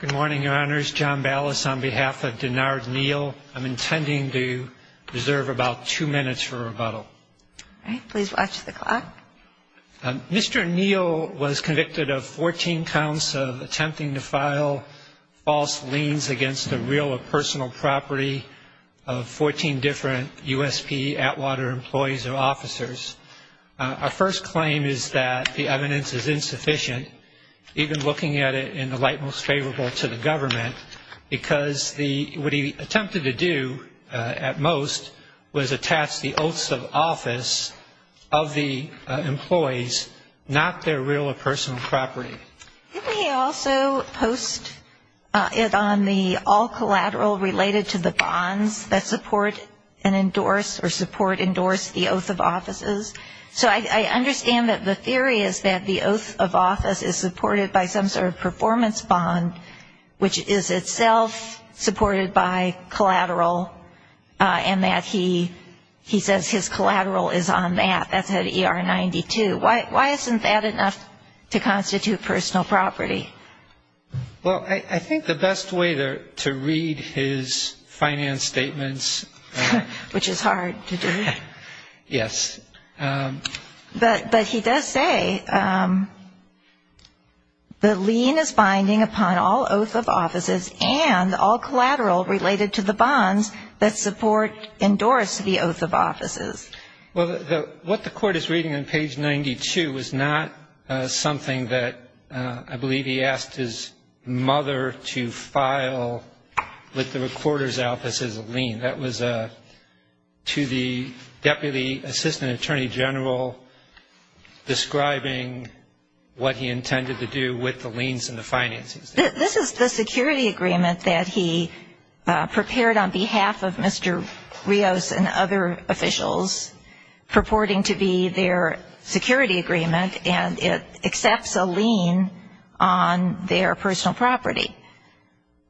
Good morning, Your Honors. John Ballas on behalf of Denard Neal. I'm intending to reserve about two minutes for rebuttal. All right. Please watch the clock. Mr. Neal was convicted of 14 counts of attempting to file false liens against a real or personal property of 14 different USP Atwater employees or officers. Our first claim is that the evidence is insufficient, even looking at it in the light most favorable to the government, because what he attempted to do at most was attach the oaths of office of the employees, not their real or personal property. Didn't he also post it on the all collateral related to the bonds that support and endorse or support endorse the oath of offices? So I understand that the theory is that the oath of office is supported by some sort of performance bond, which is itself supported by collateral, and that he says his collateral is on that. That's at ER 92. Why isn't that enough to constitute personal property? Well, I think the best way to read his finance statements. Which is hard to do. Yes. But he does say the lien is binding upon all oath of offices and all collateral related to the bonds that support endorse the oath of offices. Well, what the court is reading on page 92 is not something that I believe he asked his mother to file with the recorder's office as a lien. That was to the deputy assistant attorney general describing what he intended to do with the liens and the finances. This is the security agreement that he prepared on behalf of Mr. Rios and other officials purporting to be their security agreement, and it accepts a lien on their personal property.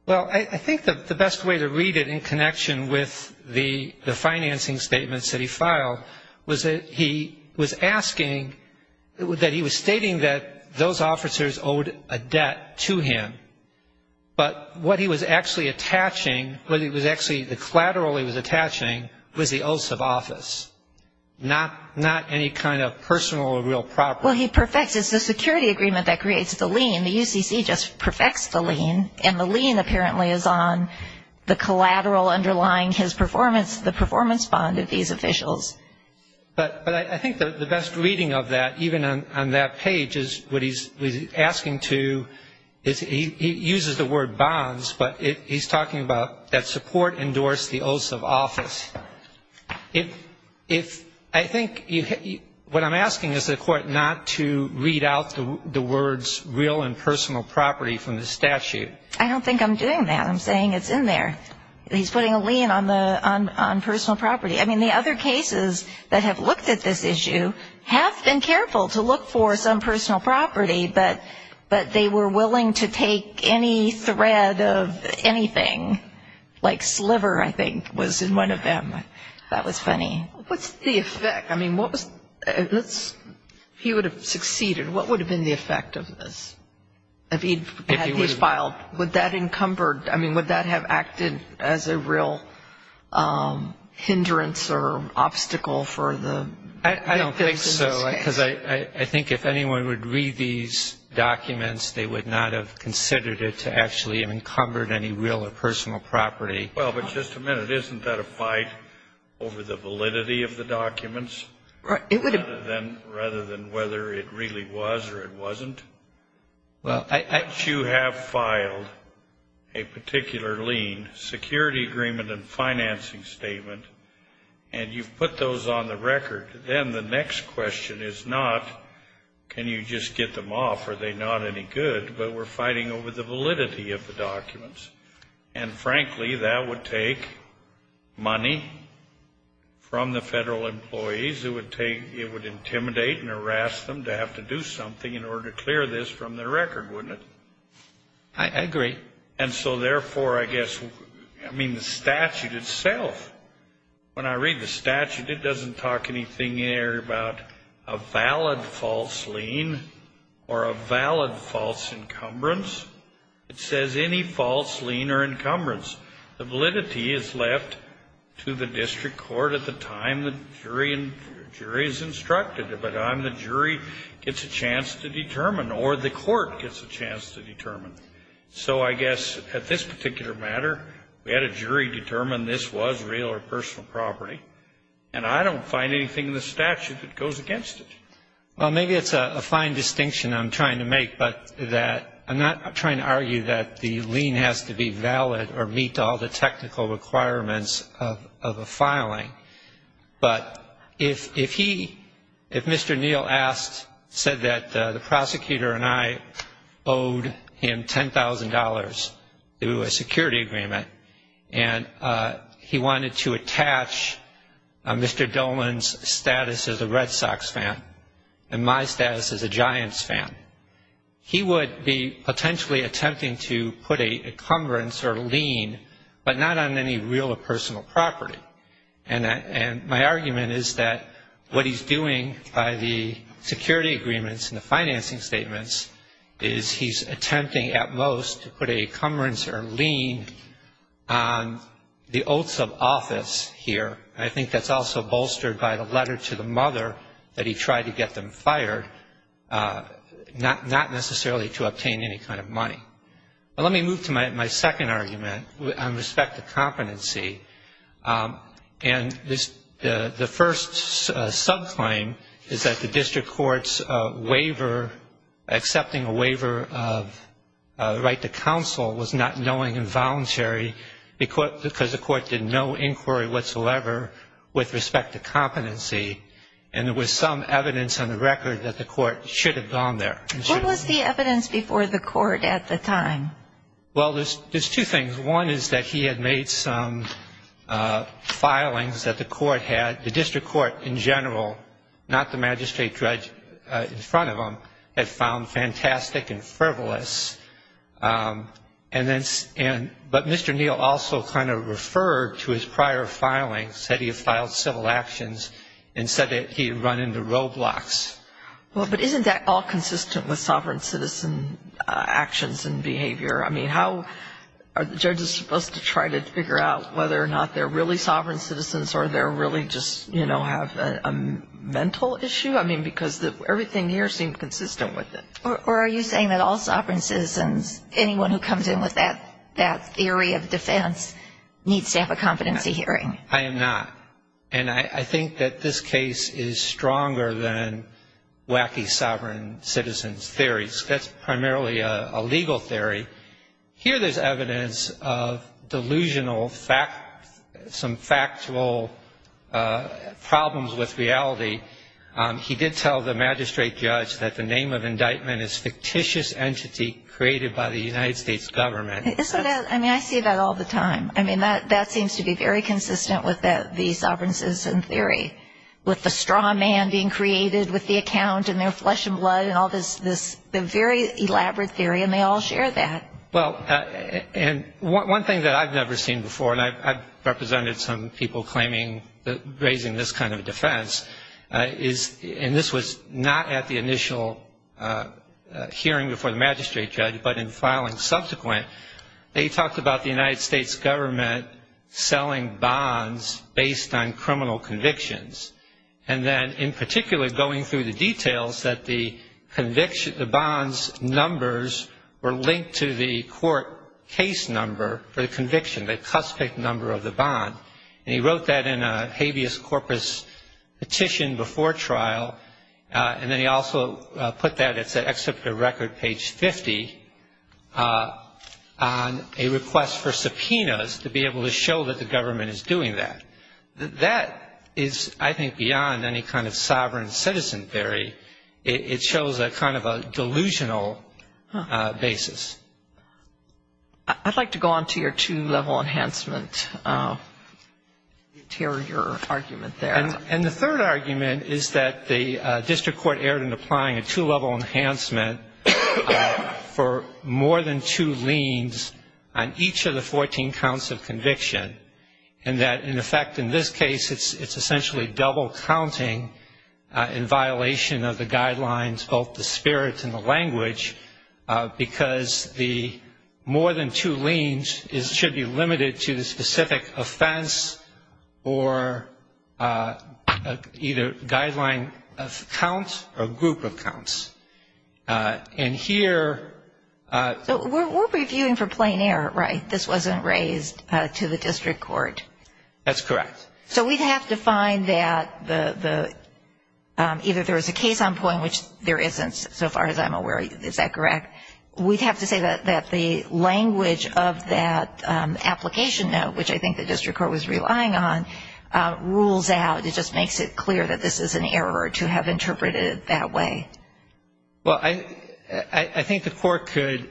Well, I think the best way to read it in connection with the financing statements that he filed was that he was asking, that he was stating that those officers owed a debt to him, but what he was actually attaching, what he was actually, the collateral he was attaching was the oath of office, not any kind of personal or real property. Well, he perfects it. It's the security agreement that creates the lien. The UCC just perfects the lien, and the lien apparently is on the collateral underlying his performance, the performance bond of these officials. But I think the best reading of that, even on that page, is what he's asking to, he uses the word bonds, but he's talking about that support endorsed the oath of office. I think what I'm asking is the Court not to read out the words real and personal property from the statute. I don't think I'm doing that. I'm saying it's in there. He's putting a lien on personal property. I mean, the other cases that have looked at this issue have been careful to look for some personal property, but they were willing to take any thread of anything, like sliver, I think, was in one of them. That was funny. What's the effect? I mean, what was, if he would have succeeded, what would have been the effect of this? If he had these filed, would that encumbered, I mean, would that have acted as a real hindrance or obstacle for the? I don't think so, because I think if anyone would read these documents, they would not have considered it to actually have encumbered any real or personal property. Well, but just a minute. Isn't that a fight over the validity of the documents? Right. Rather than whether it really was or it wasn't? Well, I. Once you have filed a particular lien, security agreement and financing statement, and you've put those on the record, then the next question is not can you just get them off, are they not any good, but we're fighting over the validity of the documents. And, frankly, that would take money from the federal employees. It would intimidate and harass them to have to do something in order to clear this from their record, wouldn't it? I agree. And so, therefore, I guess, I mean, the statute itself, when I read the statute, it doesn't talk anything there about a valid false lien or a valid false encumbrance. It says any false lien or encumbrance. The validity is left to the district court at the time the jury is instructed, but then the jury gets a chance to determine or the court gets a chance to determine. So I guess at this particular matter, we had a jury determine this was real or personal property, and I don't find anything in the statute that goes against it. Well, maybe it's a fine distinction I'm trying to make, but that I'm not trying to argue that the lien has to be valid or meet all the technical requirements of a filing. But if he, if Mr. Neal said that the prosecutor and I owed him $10,000 through a security agreement and he wanted to attach Mr. Dolan's status as a Red Sox fan and my status as a Giants fan, he would be potentially attempting to put a encumbrance or lien, but not on any real or personal property. And my argument is that what he's doing by the security agreements and the financing statements is he's attempting at most to put a encumbrance or lien on the oaths of office here. I think that's also bolstered by the letter to the mother that he tried to get them fired, not necessarily to obtain any kind of money. Let me move to my second argument on respect to competency. And the first subclaim is that the district court's waiver, accepting a waiver of right to counsel was not knowing and voluntary because the court did no inquiry whatsoever with respect to competency. And there was some evidence on the record that the court should have gone there. What was the evidence before the court at the time? Well, there's two things. One is that he had made some filings that the court had, the district court in general, not the magistrate judge in front of him, had found fantastic and frivolous. But Mr. Neal also kind of referred to his prior filings, said he had filed civil actions and said that he had run into roadblocks. Well, but isn't that all consistent with sovereign citizen actions and behavior? I mean, how are judges supposed to try to figure out whether or not they're really sovereign citizens or they're really just, you know, have a mental issue? I mean, because everything here seemed consistent with it. Or are you saying that all sovereign citizens, anyone who comes in with that theory of defense needs to have a competency hearing? I am not. And I think that this case is stronger than wacky sovereign citizens theories. That's primarily a legal theory. Here there's evidence of delusional, some factual problems with reality. He did tell the magistrate judge that the name of indictment is fictitious entity created by the United States government. I mean, I see that all the time. I mean, that seems to be very consistent with the sovereign citizen theory, with the straw man being created with the account and their flesh and blood and all this very elaborate theory, and they all share that. Well, and one thing that I've never seen before, and I've represented some people raising this kind of defense, and this was not at the initial hearing before the magistrate judge, but in filing subsequent, they talked about the United States government selling bonds based on criminal convictions, and then in particular going through the details that the bonds' numbers were linked to the court case number for the conviction, the cuspic number of the bond. And he wrote that in a habeas corpus petition before trial, and then he also put that, except for record page 50, on a request for subpoenas to be able to show that the government is doing that. That is, I think, beyond any kind of sovereign citizen theory. It shows a kind of a delusional basis. I'd like to go on to your two-level enhancement, your argument there. And the third argument is that the district court erred in applying a two-level enhancement for more than two liens on each of the 14 counts of conviction, and that, in effect, in this case, it's essentially double counting in violation of the guidelines, both the spirit and the language, because the more than two liens should be limited to the specific offense or either guideline of count or group of counts. And here ‑‑ So we're reviewing for plain error, right? This wasn't raised to the district court. That's correct. So we'd have to find that either there was a case on point, which there isn't so far as I'm aware. Is that correct? We'd have to say that the language of that application note, which I think the district court was relying on, rules out. It just makes it clear that this is an error to have interpreted it that way. Well, I think the court could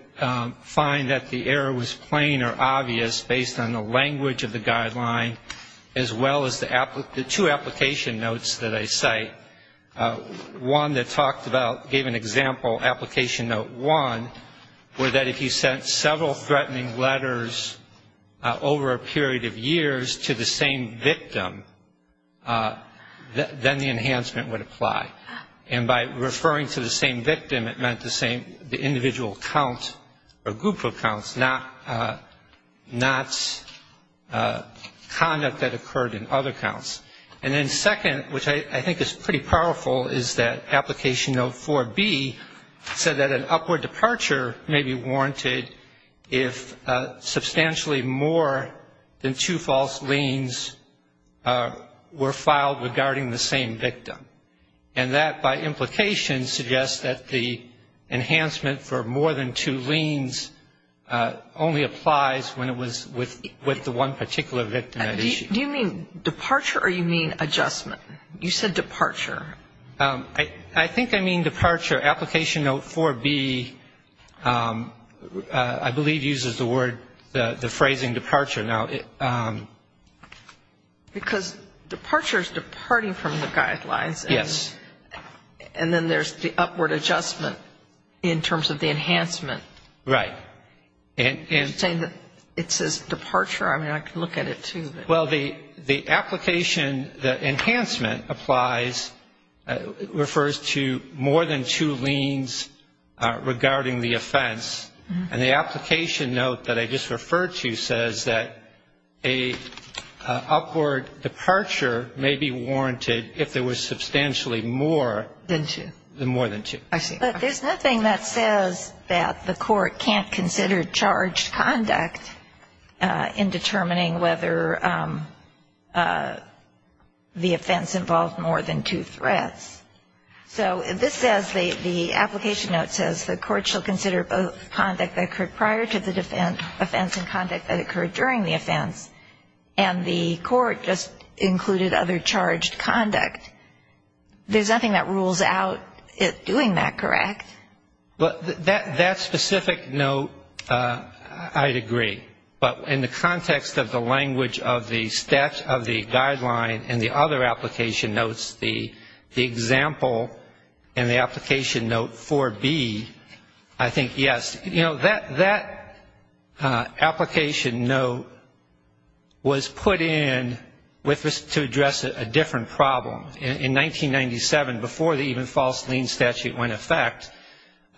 find that the error was plain or obvious based on the language of the guideline as well as the two application notes that I cite. One that talked about, gave an example, application note one, where that if you sent several threatening letters over a period of years to the same victim, then the enhancement would apply. And by referring to the same victim, it meant the same individual count or group of counts, not conduct that occurred in other counts. And then second, which I think is pretty powerful, is that application note 4B said that an upward departure may be warranted if substantially more than two false liens were filed regarding the same victim. And that, by implication, suggests that the enhancement for more than two liens only applies when it was with the one particular victim at issue. Do you mean departure or you mean adjustment? You said departure. I think I mean departure. Application note 4B, I believe, uses the word, the phrasing departure. Because departure is departing from the guidelines. Yes. And then there's the upward adjustment in terms of the enhancement. Right. It says departure. I mean, I can look at it, too. Well, the application, the enhancement applies, refers to more than two liens regarding the offense. And the application note that I just referred to says that an upward departure may be warranted if there was substantially more than two. I see. But there's nothing that says that the court can't consider charged conduct in determining whether the offense involved more than two threats. So this says, the application note says, the court shall consider both conduct that occurred prior to the offense and conduct that occurred during the offense. And the court just included other charged conduct. There's nothing that rules out it doing that, correct? That specific note, I'd agree. But in the context of the language of the statute of the guideline and the other application notes, the example in the application note 4B, I think, yes. You know, that application note was put in to address a different problem. In 1997, before the even false lien statute went in effect,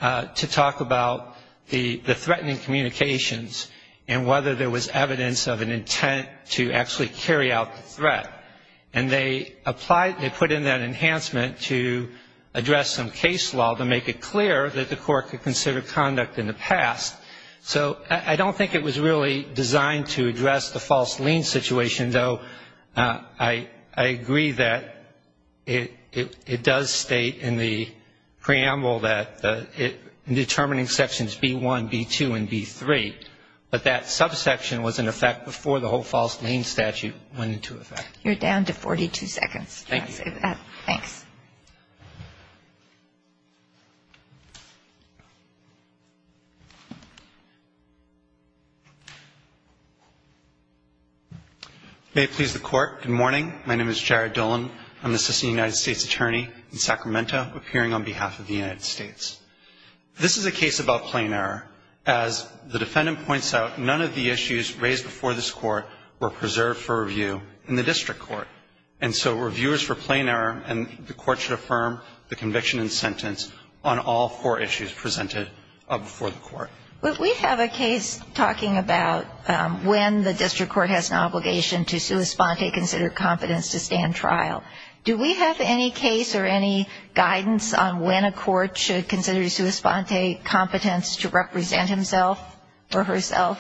to talk about the threatening communications and whether there was evidence of an intent to actually carry out the threat. And they put in that enhancement to address some case law to make it clear that the court could consider conduct in the past. So I don't think it was really designed to address the false lien situation, though I agree that it does state in the preamble that determining sections B-1, B-2, and B-3. But that subsection was in effect before the whole false lien statute went into effect. You're down to 42 seconds. Thank you. Please. Thanks. May it please the Court. Good morning. My name is Jared Dolan. I'm the Assistant United States Attorney in Sacramento, appearing on behalf of the United States. This is a case about plain error. As the defendant points out, none of the issues raised before this Court were preserved for review in the district court. And so reviewers for plain error, and the court should affirm the conviction and sentence on all four issues presented before the court. We have a case talking about when the district court has an obligation to sua sponte, consider competence to stand trial. Do we have any case or any guidance on when a court should consider sua sponte, competence to represent himself or herself?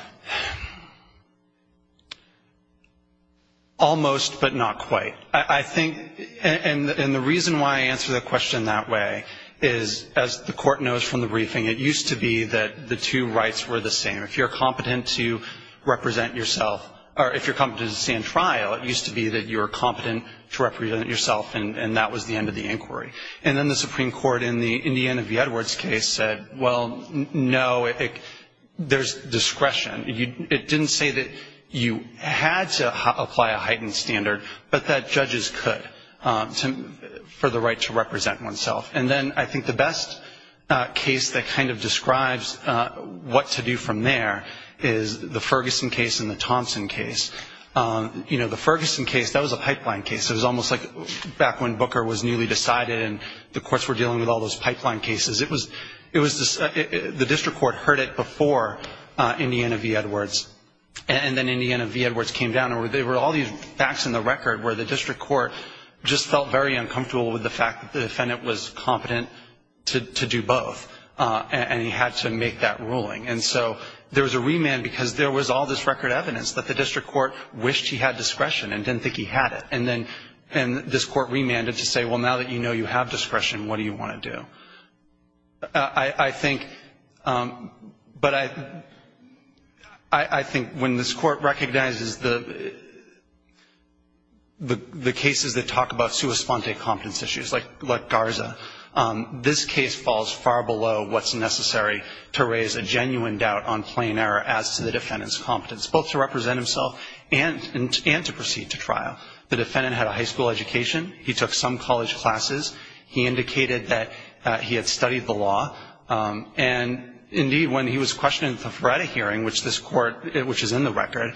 Almost, but not quite. I think, and the reason why I answer the question that way is, as the court knows from the briefing, it used to be that the two rights were the same. If you're competent to represent yourself, or if you're competent to stand trial, it used to be that you were competent to represent yourself, and that was the end of the inquiry. And then the Supreme Court in the Indiana v. Edwards case said, well, no, there's discretion. It didn't say that you had to apply a heightened standard, but that judges could for the right to represent oneself. And then I think the best case that kind of describes what to do from there is the Ferguson case and the Thompson case. You know, the Ferguson case, that was a pipeline case. It was almost like back when Booker was newly decided and the courts were dealing with all those pipeline cases. The district court heard it before Indiana v. Edwards, and then Indiana v. Edwards came down, and there were all these facts in the record where the district court just felt very uncomfortable with the fact that the defendant was competent to do both, and he had to make that ruling. And so there was a remand because there was all this record evidence that the district court wished he had discretion and didn't think he had it. And this court remanded to say, well, now that you know you have discretion, what do you want to do? I think when this court recognizes the cases that talk about sua sponte competence issues, like Garza, this case falls far below what's necessary to raise a genuine doubt on plain error as to the defendant's competence, both to represent himself and to proceed to trial. The defendant had a high school education. He took some college classes. He indicated that he had studied the law. And, indeed, when he was questioned at the Feretta hearing, which this court, which is in the record,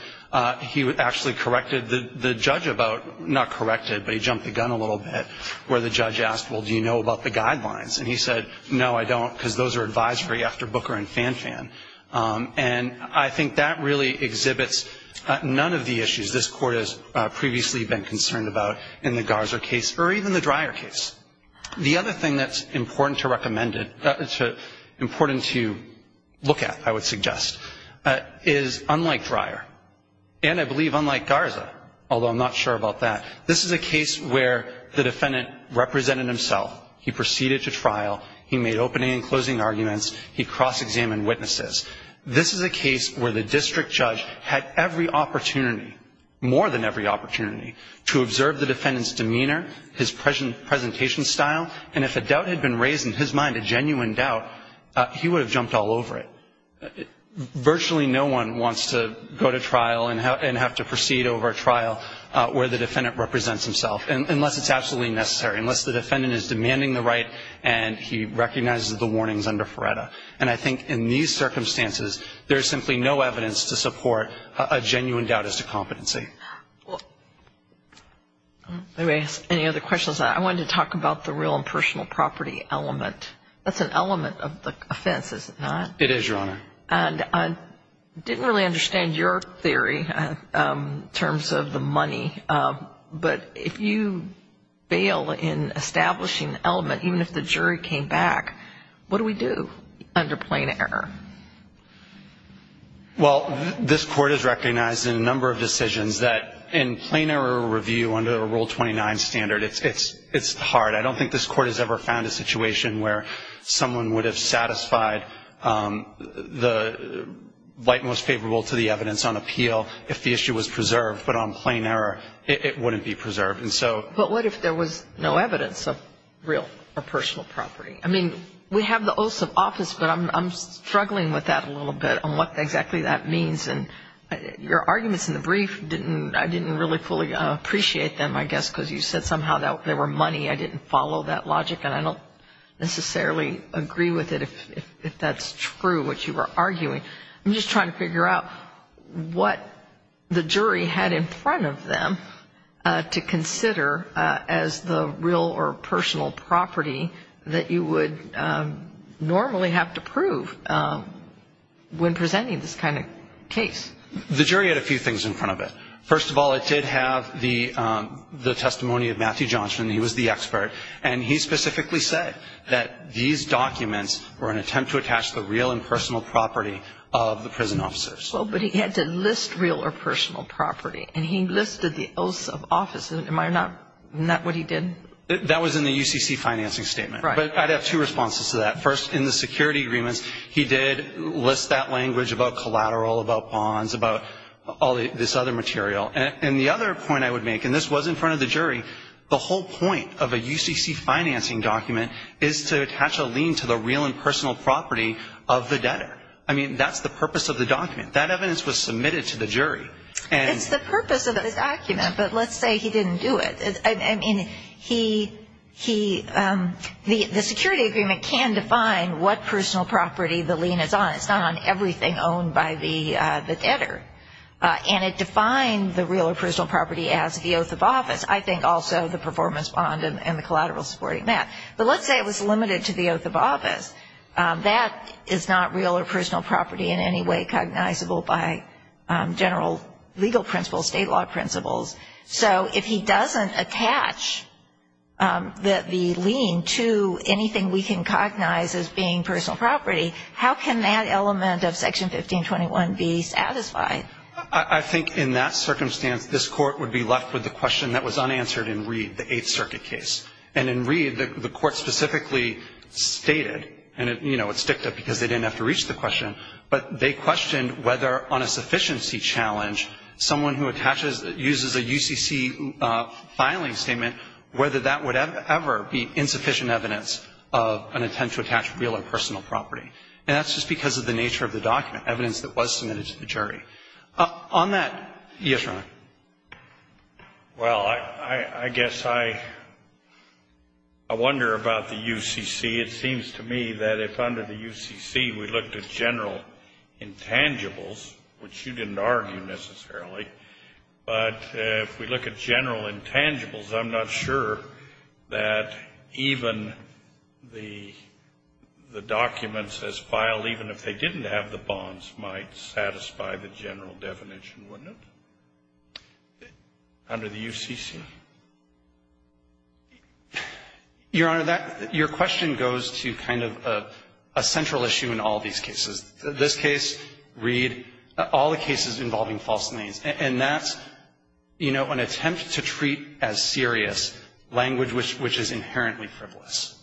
he actually corrected the judge about, not corrected, but he jumped the gun a little bit, where the judge asked, well, do you know about the guidelines? And he said, no, I don't, because those are advisory after Booker and Fanfan. And I think that really exhibits none of the issues this court has previously been concerned about in the Garza case or even the Dreyer case. The other thing that's important to look at, I would suggest, is, unlike Dreyer, and I believe unlike Garza, although I'm not sure about that, this is a case where the defendant represented himself. He proceeded to trial. He made opening and closing arguments. He cross-examined witnesses. This is a case where the district judge had every opportunity, more than every opportunity, to observe the defendant's demeanor, his presentation style, and if a doubt had been raised in his mind, a genuine doubt, he would have jumped all over it. Virtually no one wants to go to trial and have to proceed over a trial where the defendant represents himself, unless it's absolutely necessary, unless the defendant is demanding the right and he recognizes the warnings under Feretta. And I think in these circumstances, there's simply no evidence to support a genuine doubt as to competency. Let me ask any other questions. I wanted to talk about the real and personal property element. That's an element of the offense, is it not? It is, Your Honor. And I didn't really understand your theory in terms of the money, but if you fail in establishing the element, even if the jury came back, what do we do under plain error? Well, this Court has recognized in a number of decisions that in plain error review under Rule 29 standard, it's hard. I don't think this Court has ever found a situation where someone would have satisfied the right most favorable to the evidence on appeal if the issue was preserved, but on plain error, it wouldn't be preserved. But what if there was no evidence of real or personal property? I mean, we have the oaths of office, but I'm struggling with that a little bit on what exactly that means. And your arguments in the brief, I didn't really fully appreciate them, I guess, because you said somehow there were money, I didn't follow that logic, and I don't necessarily agree with it if that's true, what you were arguing. I'm just trying to figure out what the jury had in front of them to consider as the real or personal property that you would normally have to prove when presenting this kind of case. The jury had a few things in front of it. First of all, it did have the testimony of Matthew Johnson, he was the expert, and he specifically said that these documents were an attempt to attach the real and personal property of the prison officers. But he had to list real or personal property, and he listed the oaths of office. Isn't that what he did? That was in the UCC financing statement. But I'd have two responses to that. First, in the security agreements, he did list that language about collateral, about bonds, about all this other material. And the other point I would make, and this was in front of the jury, the whole point of a UCC financing document is to attach a lien to the real and personal property of the debtor. I mean, that's the purpose of the document. That evidence was submitted to the jury. It's the purpose of the document, but let's say he didn't do it. I mean, the security agreement can define what personal property the lien is on. It's not on everything owned by the debtor. And it defined the real or personal property as the oath of office. I think also the performance bond and the collateral supporting that. But let's say it was limited to the oath of office. That is not real or personal property in any way cognizable by general legal principles, state law principles. So if he doesn't attach the lien to anything we can cognize as being personal property, how can that element of Section 1521 be satisfied? I think in that circumstance, this Court would be left with the question that was unanswered in Reed, the Eighth Circuit case. And in Reed, the Court specifically stated, and, you know, it sticked up because they didn't have to reach the question, but they questioned whether on a sufficiency challenge, someone who uses a UCC filing statement, whether that would ever be insufficient evidence of an attempt to attach real or personal property. And that's just because of the nature of the document, evidence that was submitted to the jury. On that, yes, Your Honor. Well, I guess I wonder about the UCC. It seems to me that if under the UCC we looked at general intangibles, which you didn't argue necessarily, but if we look at general intangibles, I'm not sure that even the documents as filed, even if they didn't have the bonds, might satisfy the general definition, wouldn't it, under the UCC? Your Honor, that — your question goes to kind of a central issue in all these cases. This case, Reed, all the cases involving false liens, and that's, you know, an attempt to treat as serious language which is inherently frivolous.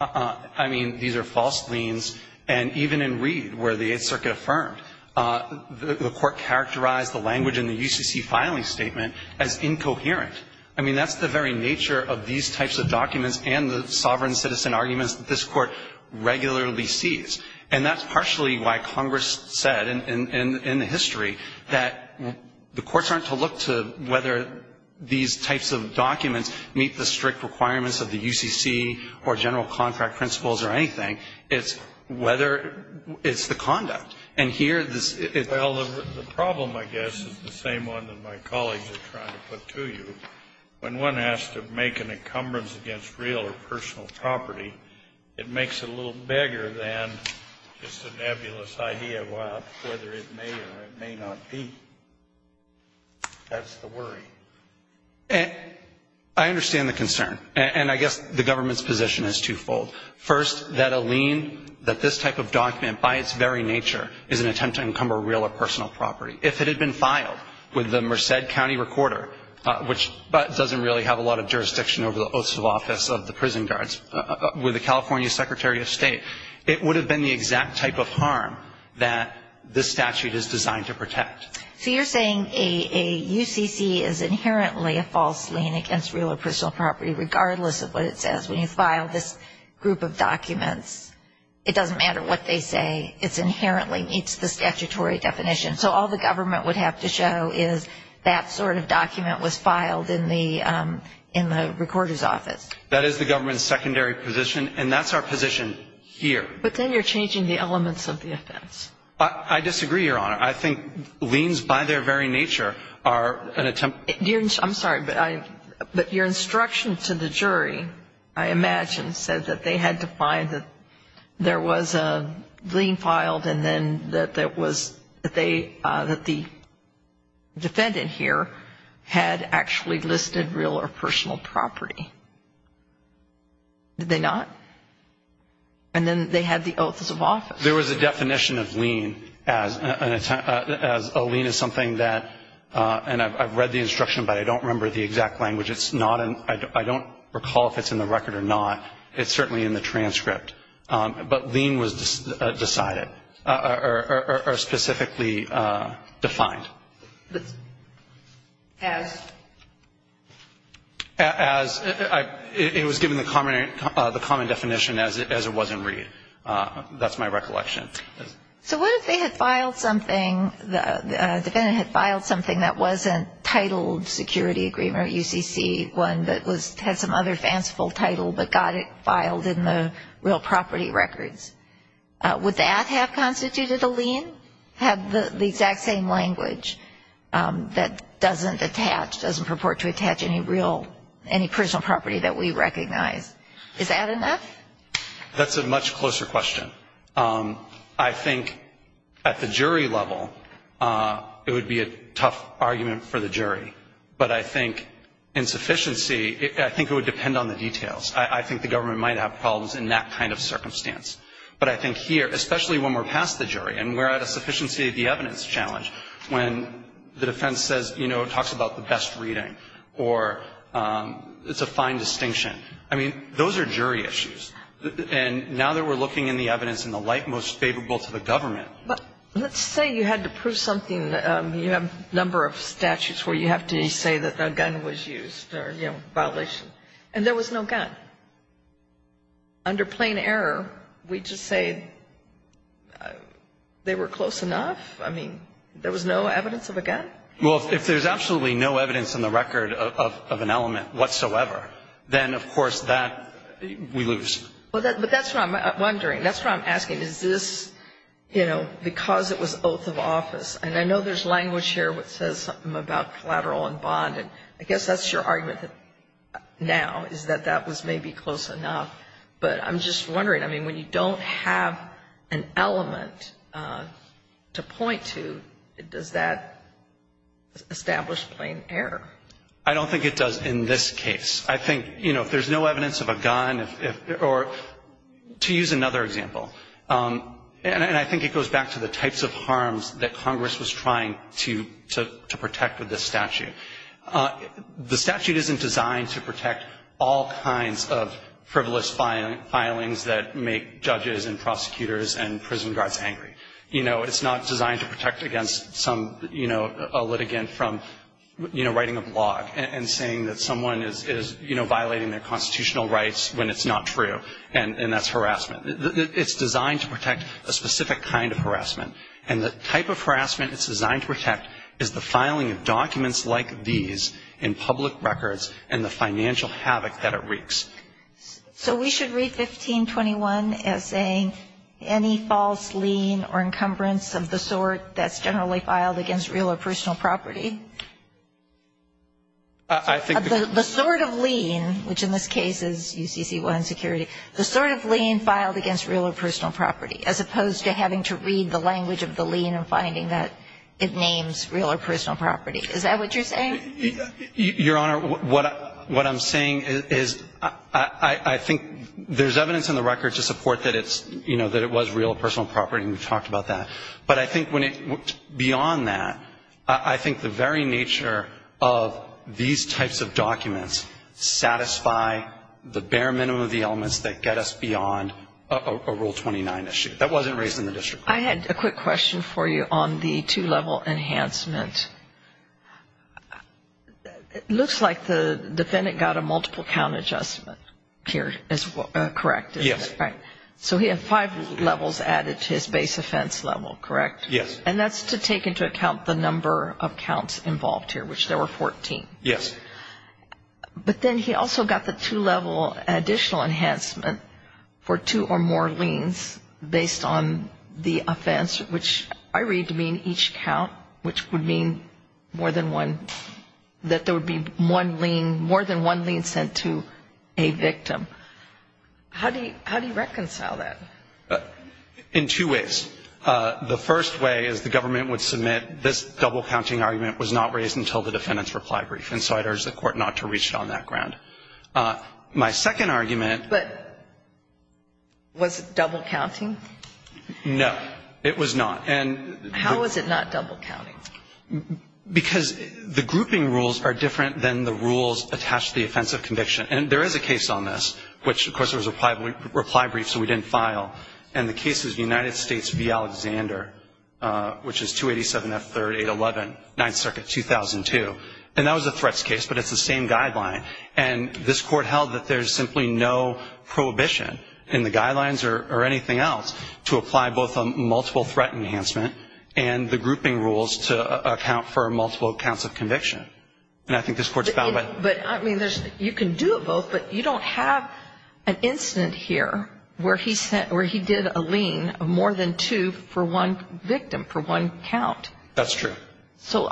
I mean, these are false liens. And even in Reed, where the Eighth Circuit affirmed, the Court characterized the language in the UCC filing statement as incoherent. I mean, that's the very nature of these types of documents and the sovereign citizen arguments that this Court regularly sees. And that's partially why Congress said, in the history, that the courts aren't to look to whether these types of documents meet the strict requirements of the UCC or general contract principles or anything. It's whether — it's the conduct. And here this — Well, the problem, I guess, is the same one that my colleagues are trying to put to you. When one has to make an encumbrance against real or personal property, it makes it a little bigger than just a nebulous idea of whether it may or it may not be. That's the worry. I understand the concern. And I guess the government's position is twofold. First, that a lien, that this type of document, by its very nature, is an attempt to encumber real or personal property. If it had been filed with the Merced County Recorder, which doesn't really have a lot of jurisdiction over the oaths of office of the prison guards, with the California Secretary of State, it would have been the exact type of harm that this statute is designed to protect. So you're saying a UCC is inherently a false lien against real or personal property, regardless of what it says. When you file this group of documents, it doesn't matter what they say. It inherently meets the statutory definition. So all the government would have to show is that sort of document was filed in the recorder's office. That is the government's secondary position. And that's our position here. But then you're changing the elements of the offense. I disagree, Your Honor. I think liens, by their very nature, are an attempt. I'm sorry, but your instruction to the jury, I imagine, said that they had to find that there was a lien filed and then that the defendant here had actually listed real or personal property. Did they not? And then they had the oaths of office. There was a definition of lien as a lien is something that, and I've read the instruction, but I don't remember the exact language. I don't recall if it's in the record or not. It's certainly in the transcript. But lien was decided or specifically defined. But as? As. It was given the common definition as it was in Reed. That's my recollection. So what if they had filed something, the defendant had filed something that wasn't titled security agreement or UCC, one that had some other fanciful title but got it filed in the real property records. Would that have constituted a lien, have the exact same language that doesn't attach, doesn't purport to attach any real, any personal property that we recognize? Is that enough? That's a much closer question. I think at the jury level it would be a tough argument for the jury. But I think insufficiency, I think it would depend on the details. I think the government might have problems in that kind of circumstance. But I think here, especially when we're past the jury and we're at a sufficiency of the evidence challenge, when the defense says, you know, it talks about the best reading or it's a fine distinction. I mean, those are jury issues. And now that we're looking in the evidence in the light most favorable to the government. Let's say you had to prove something. You have a number of statutes where you have to say that a gun was used or, you know, violation. And there was no gun. Under plain error, we just say they were close enough? I mean, there was no evidence of a gun? Well, if there's absolutely no evidence in the record of an element whatsoever, then, of course, that we lose. But that's what I'm wondering. That's what I'm asking. Is this, you know, because it was oath of office. And I know there's language here that says something about collateral and bond. And I guess that's your argument now is that that was maybe close enough. But I'm just wondering. I mean, when you don't have an element to point to, does that establish plain error? I don't think it does in this case. I think, you know, if there's no evidence of a gun or to use another example. And I think it goes back to the types of harms that Congress was trying to protect with this statute. The statute isn't designed to protect all kinds of frivolous filings that make judges and prosecutors and prison guards angry. You know, it's not designed to protect against some, you know, a litigant from, you know, violating their constitutional rights when it's not true. And that's harassment. It's designed to protect a specific kind of harassment. And the type of harassment it's designed to protect is the filing of documents like these in public records and the financial havoc that it wreaks. So we should read 1521 as saying, any false lien or encumbrance of the sort that's generally filed against real or personal property. I think the sort of lien, which in this case is UCC-1 security, the sort of lien filed against real or personal property as opposed to having to read the language of the lien and finding that it names real or personal property. Is that what you're saying? Your Honor, what I'm saying is I think there's evidence in the record to support that it's, you know, that it was real or personal property, and we've talked about that. But I think beyond that, I think the very nature of these types of documents satisfy the bare minimum of the elements that get us beyond a Rule 29 issue. That wasn't raised in the district court. I had a quick question for you on the two-level enhancement. It looks like the defendant got a multiple count adjustment here as well, correct? Yes. Right. So he had five levels added to his base offense level, correct? Yes. And that's to take into account the number of counts involved here, which there were 14. Yes. But then he also got the two-level additional enhancement for two or more liens based on the offense, which I read to mean each count, which would mean more than one, that there would be more than one lien sent to a victim. How do you reconcile that? In two ways. The first way is the government would submit this double-counting argument was not raised until the defendant's reply brief, and so I'd urge the Court not to reach on that ground. My second argument But was it double-counting? No. It was not. How was it not double-counting? Because the grouping rules are different than the rules attached to the offense of conviction. And there is a case on this, which, of course, there was a reply brief, so we didn't file. And the case is United States v. Alexander, which is 287 F. 3rd, 811, 9th Circuit, 2002. And that was a threats case, but it's the same guideline. And this Court held that there's simply no prohibition in the guidelines or anything else to apply both a multiple threat enhancement and the grouping rules to account for multiple counts of conviction. And I think this Court's bound by that. But, I mean, you can do it both, but you don't have an incident here where he did a lien of more than two for one victim, for one count. That's true. So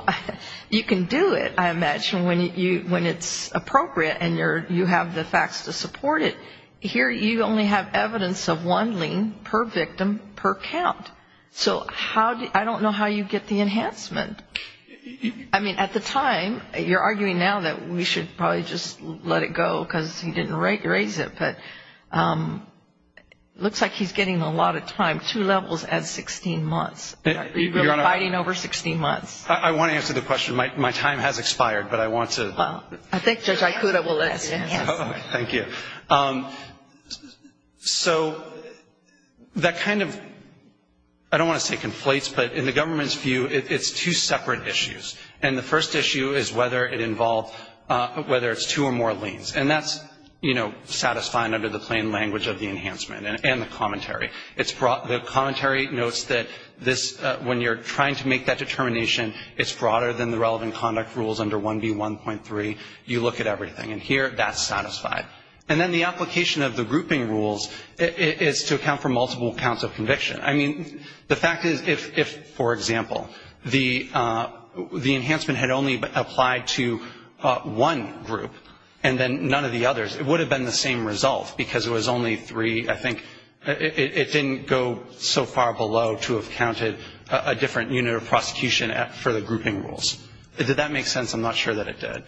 you can do it, I imagine, when it's appropriate and you have the facts to support it. Here you only have evidence of one lien per victim per count. So I don't know how you get the enhancement. I mean, at the time, you're arguing now that we should probably just let it go because he didn't raise it. But it looks like he's getting a lot of time, two levels at 16 months. You're fighting over 16 months. I want to answer the question. My time has expired, but I want to. Well, I think Judge Ikuda will let you answer. Thank you. So that kind of, I don't want to say conflates, but in the government's view it's two separate issues. And the first issue is whether it's two or more liens. And that's satisfying under the plain language of the enhancement and the commentary. The commentary notes that when you're trying to make that determination, it's broader than the relevant conduct rules under 1B1.3. You look at everything. And here, that's satisfied. And then the application of the grouping rules is to account for multiple counts of conviction. I mean, the fact is, if, for example, the enhancement had only applied to one group and then none of the others, it would have been the same result because it was only three. I think it didn't go so far below to have counted a different unit of prosecution for the grouping rules. Did that make sense? I'm not sure that it did.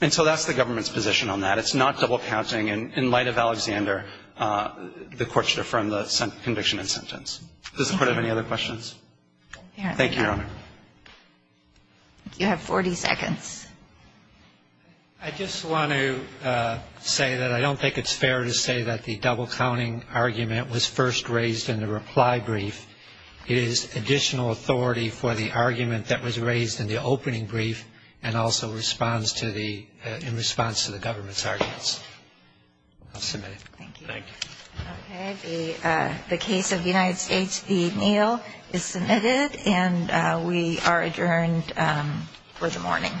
And so that's the government's position on that. It's not double counting. And in light of Alexander, the Court should affirm the conviction and sentence. Does the Court have any other questions? Thank you, Your Honor. You have 40 seconds. I just want to say that I don't think it's fair to say that the double counting argument was first raised in the reply brief. It is additional authority for the argument that was raised in the opening brief and also in response to the government's arguments. I'll submit it. Thank you. Okay. The case of the United States v. Neal is submitted. And we are adjourned for the morning.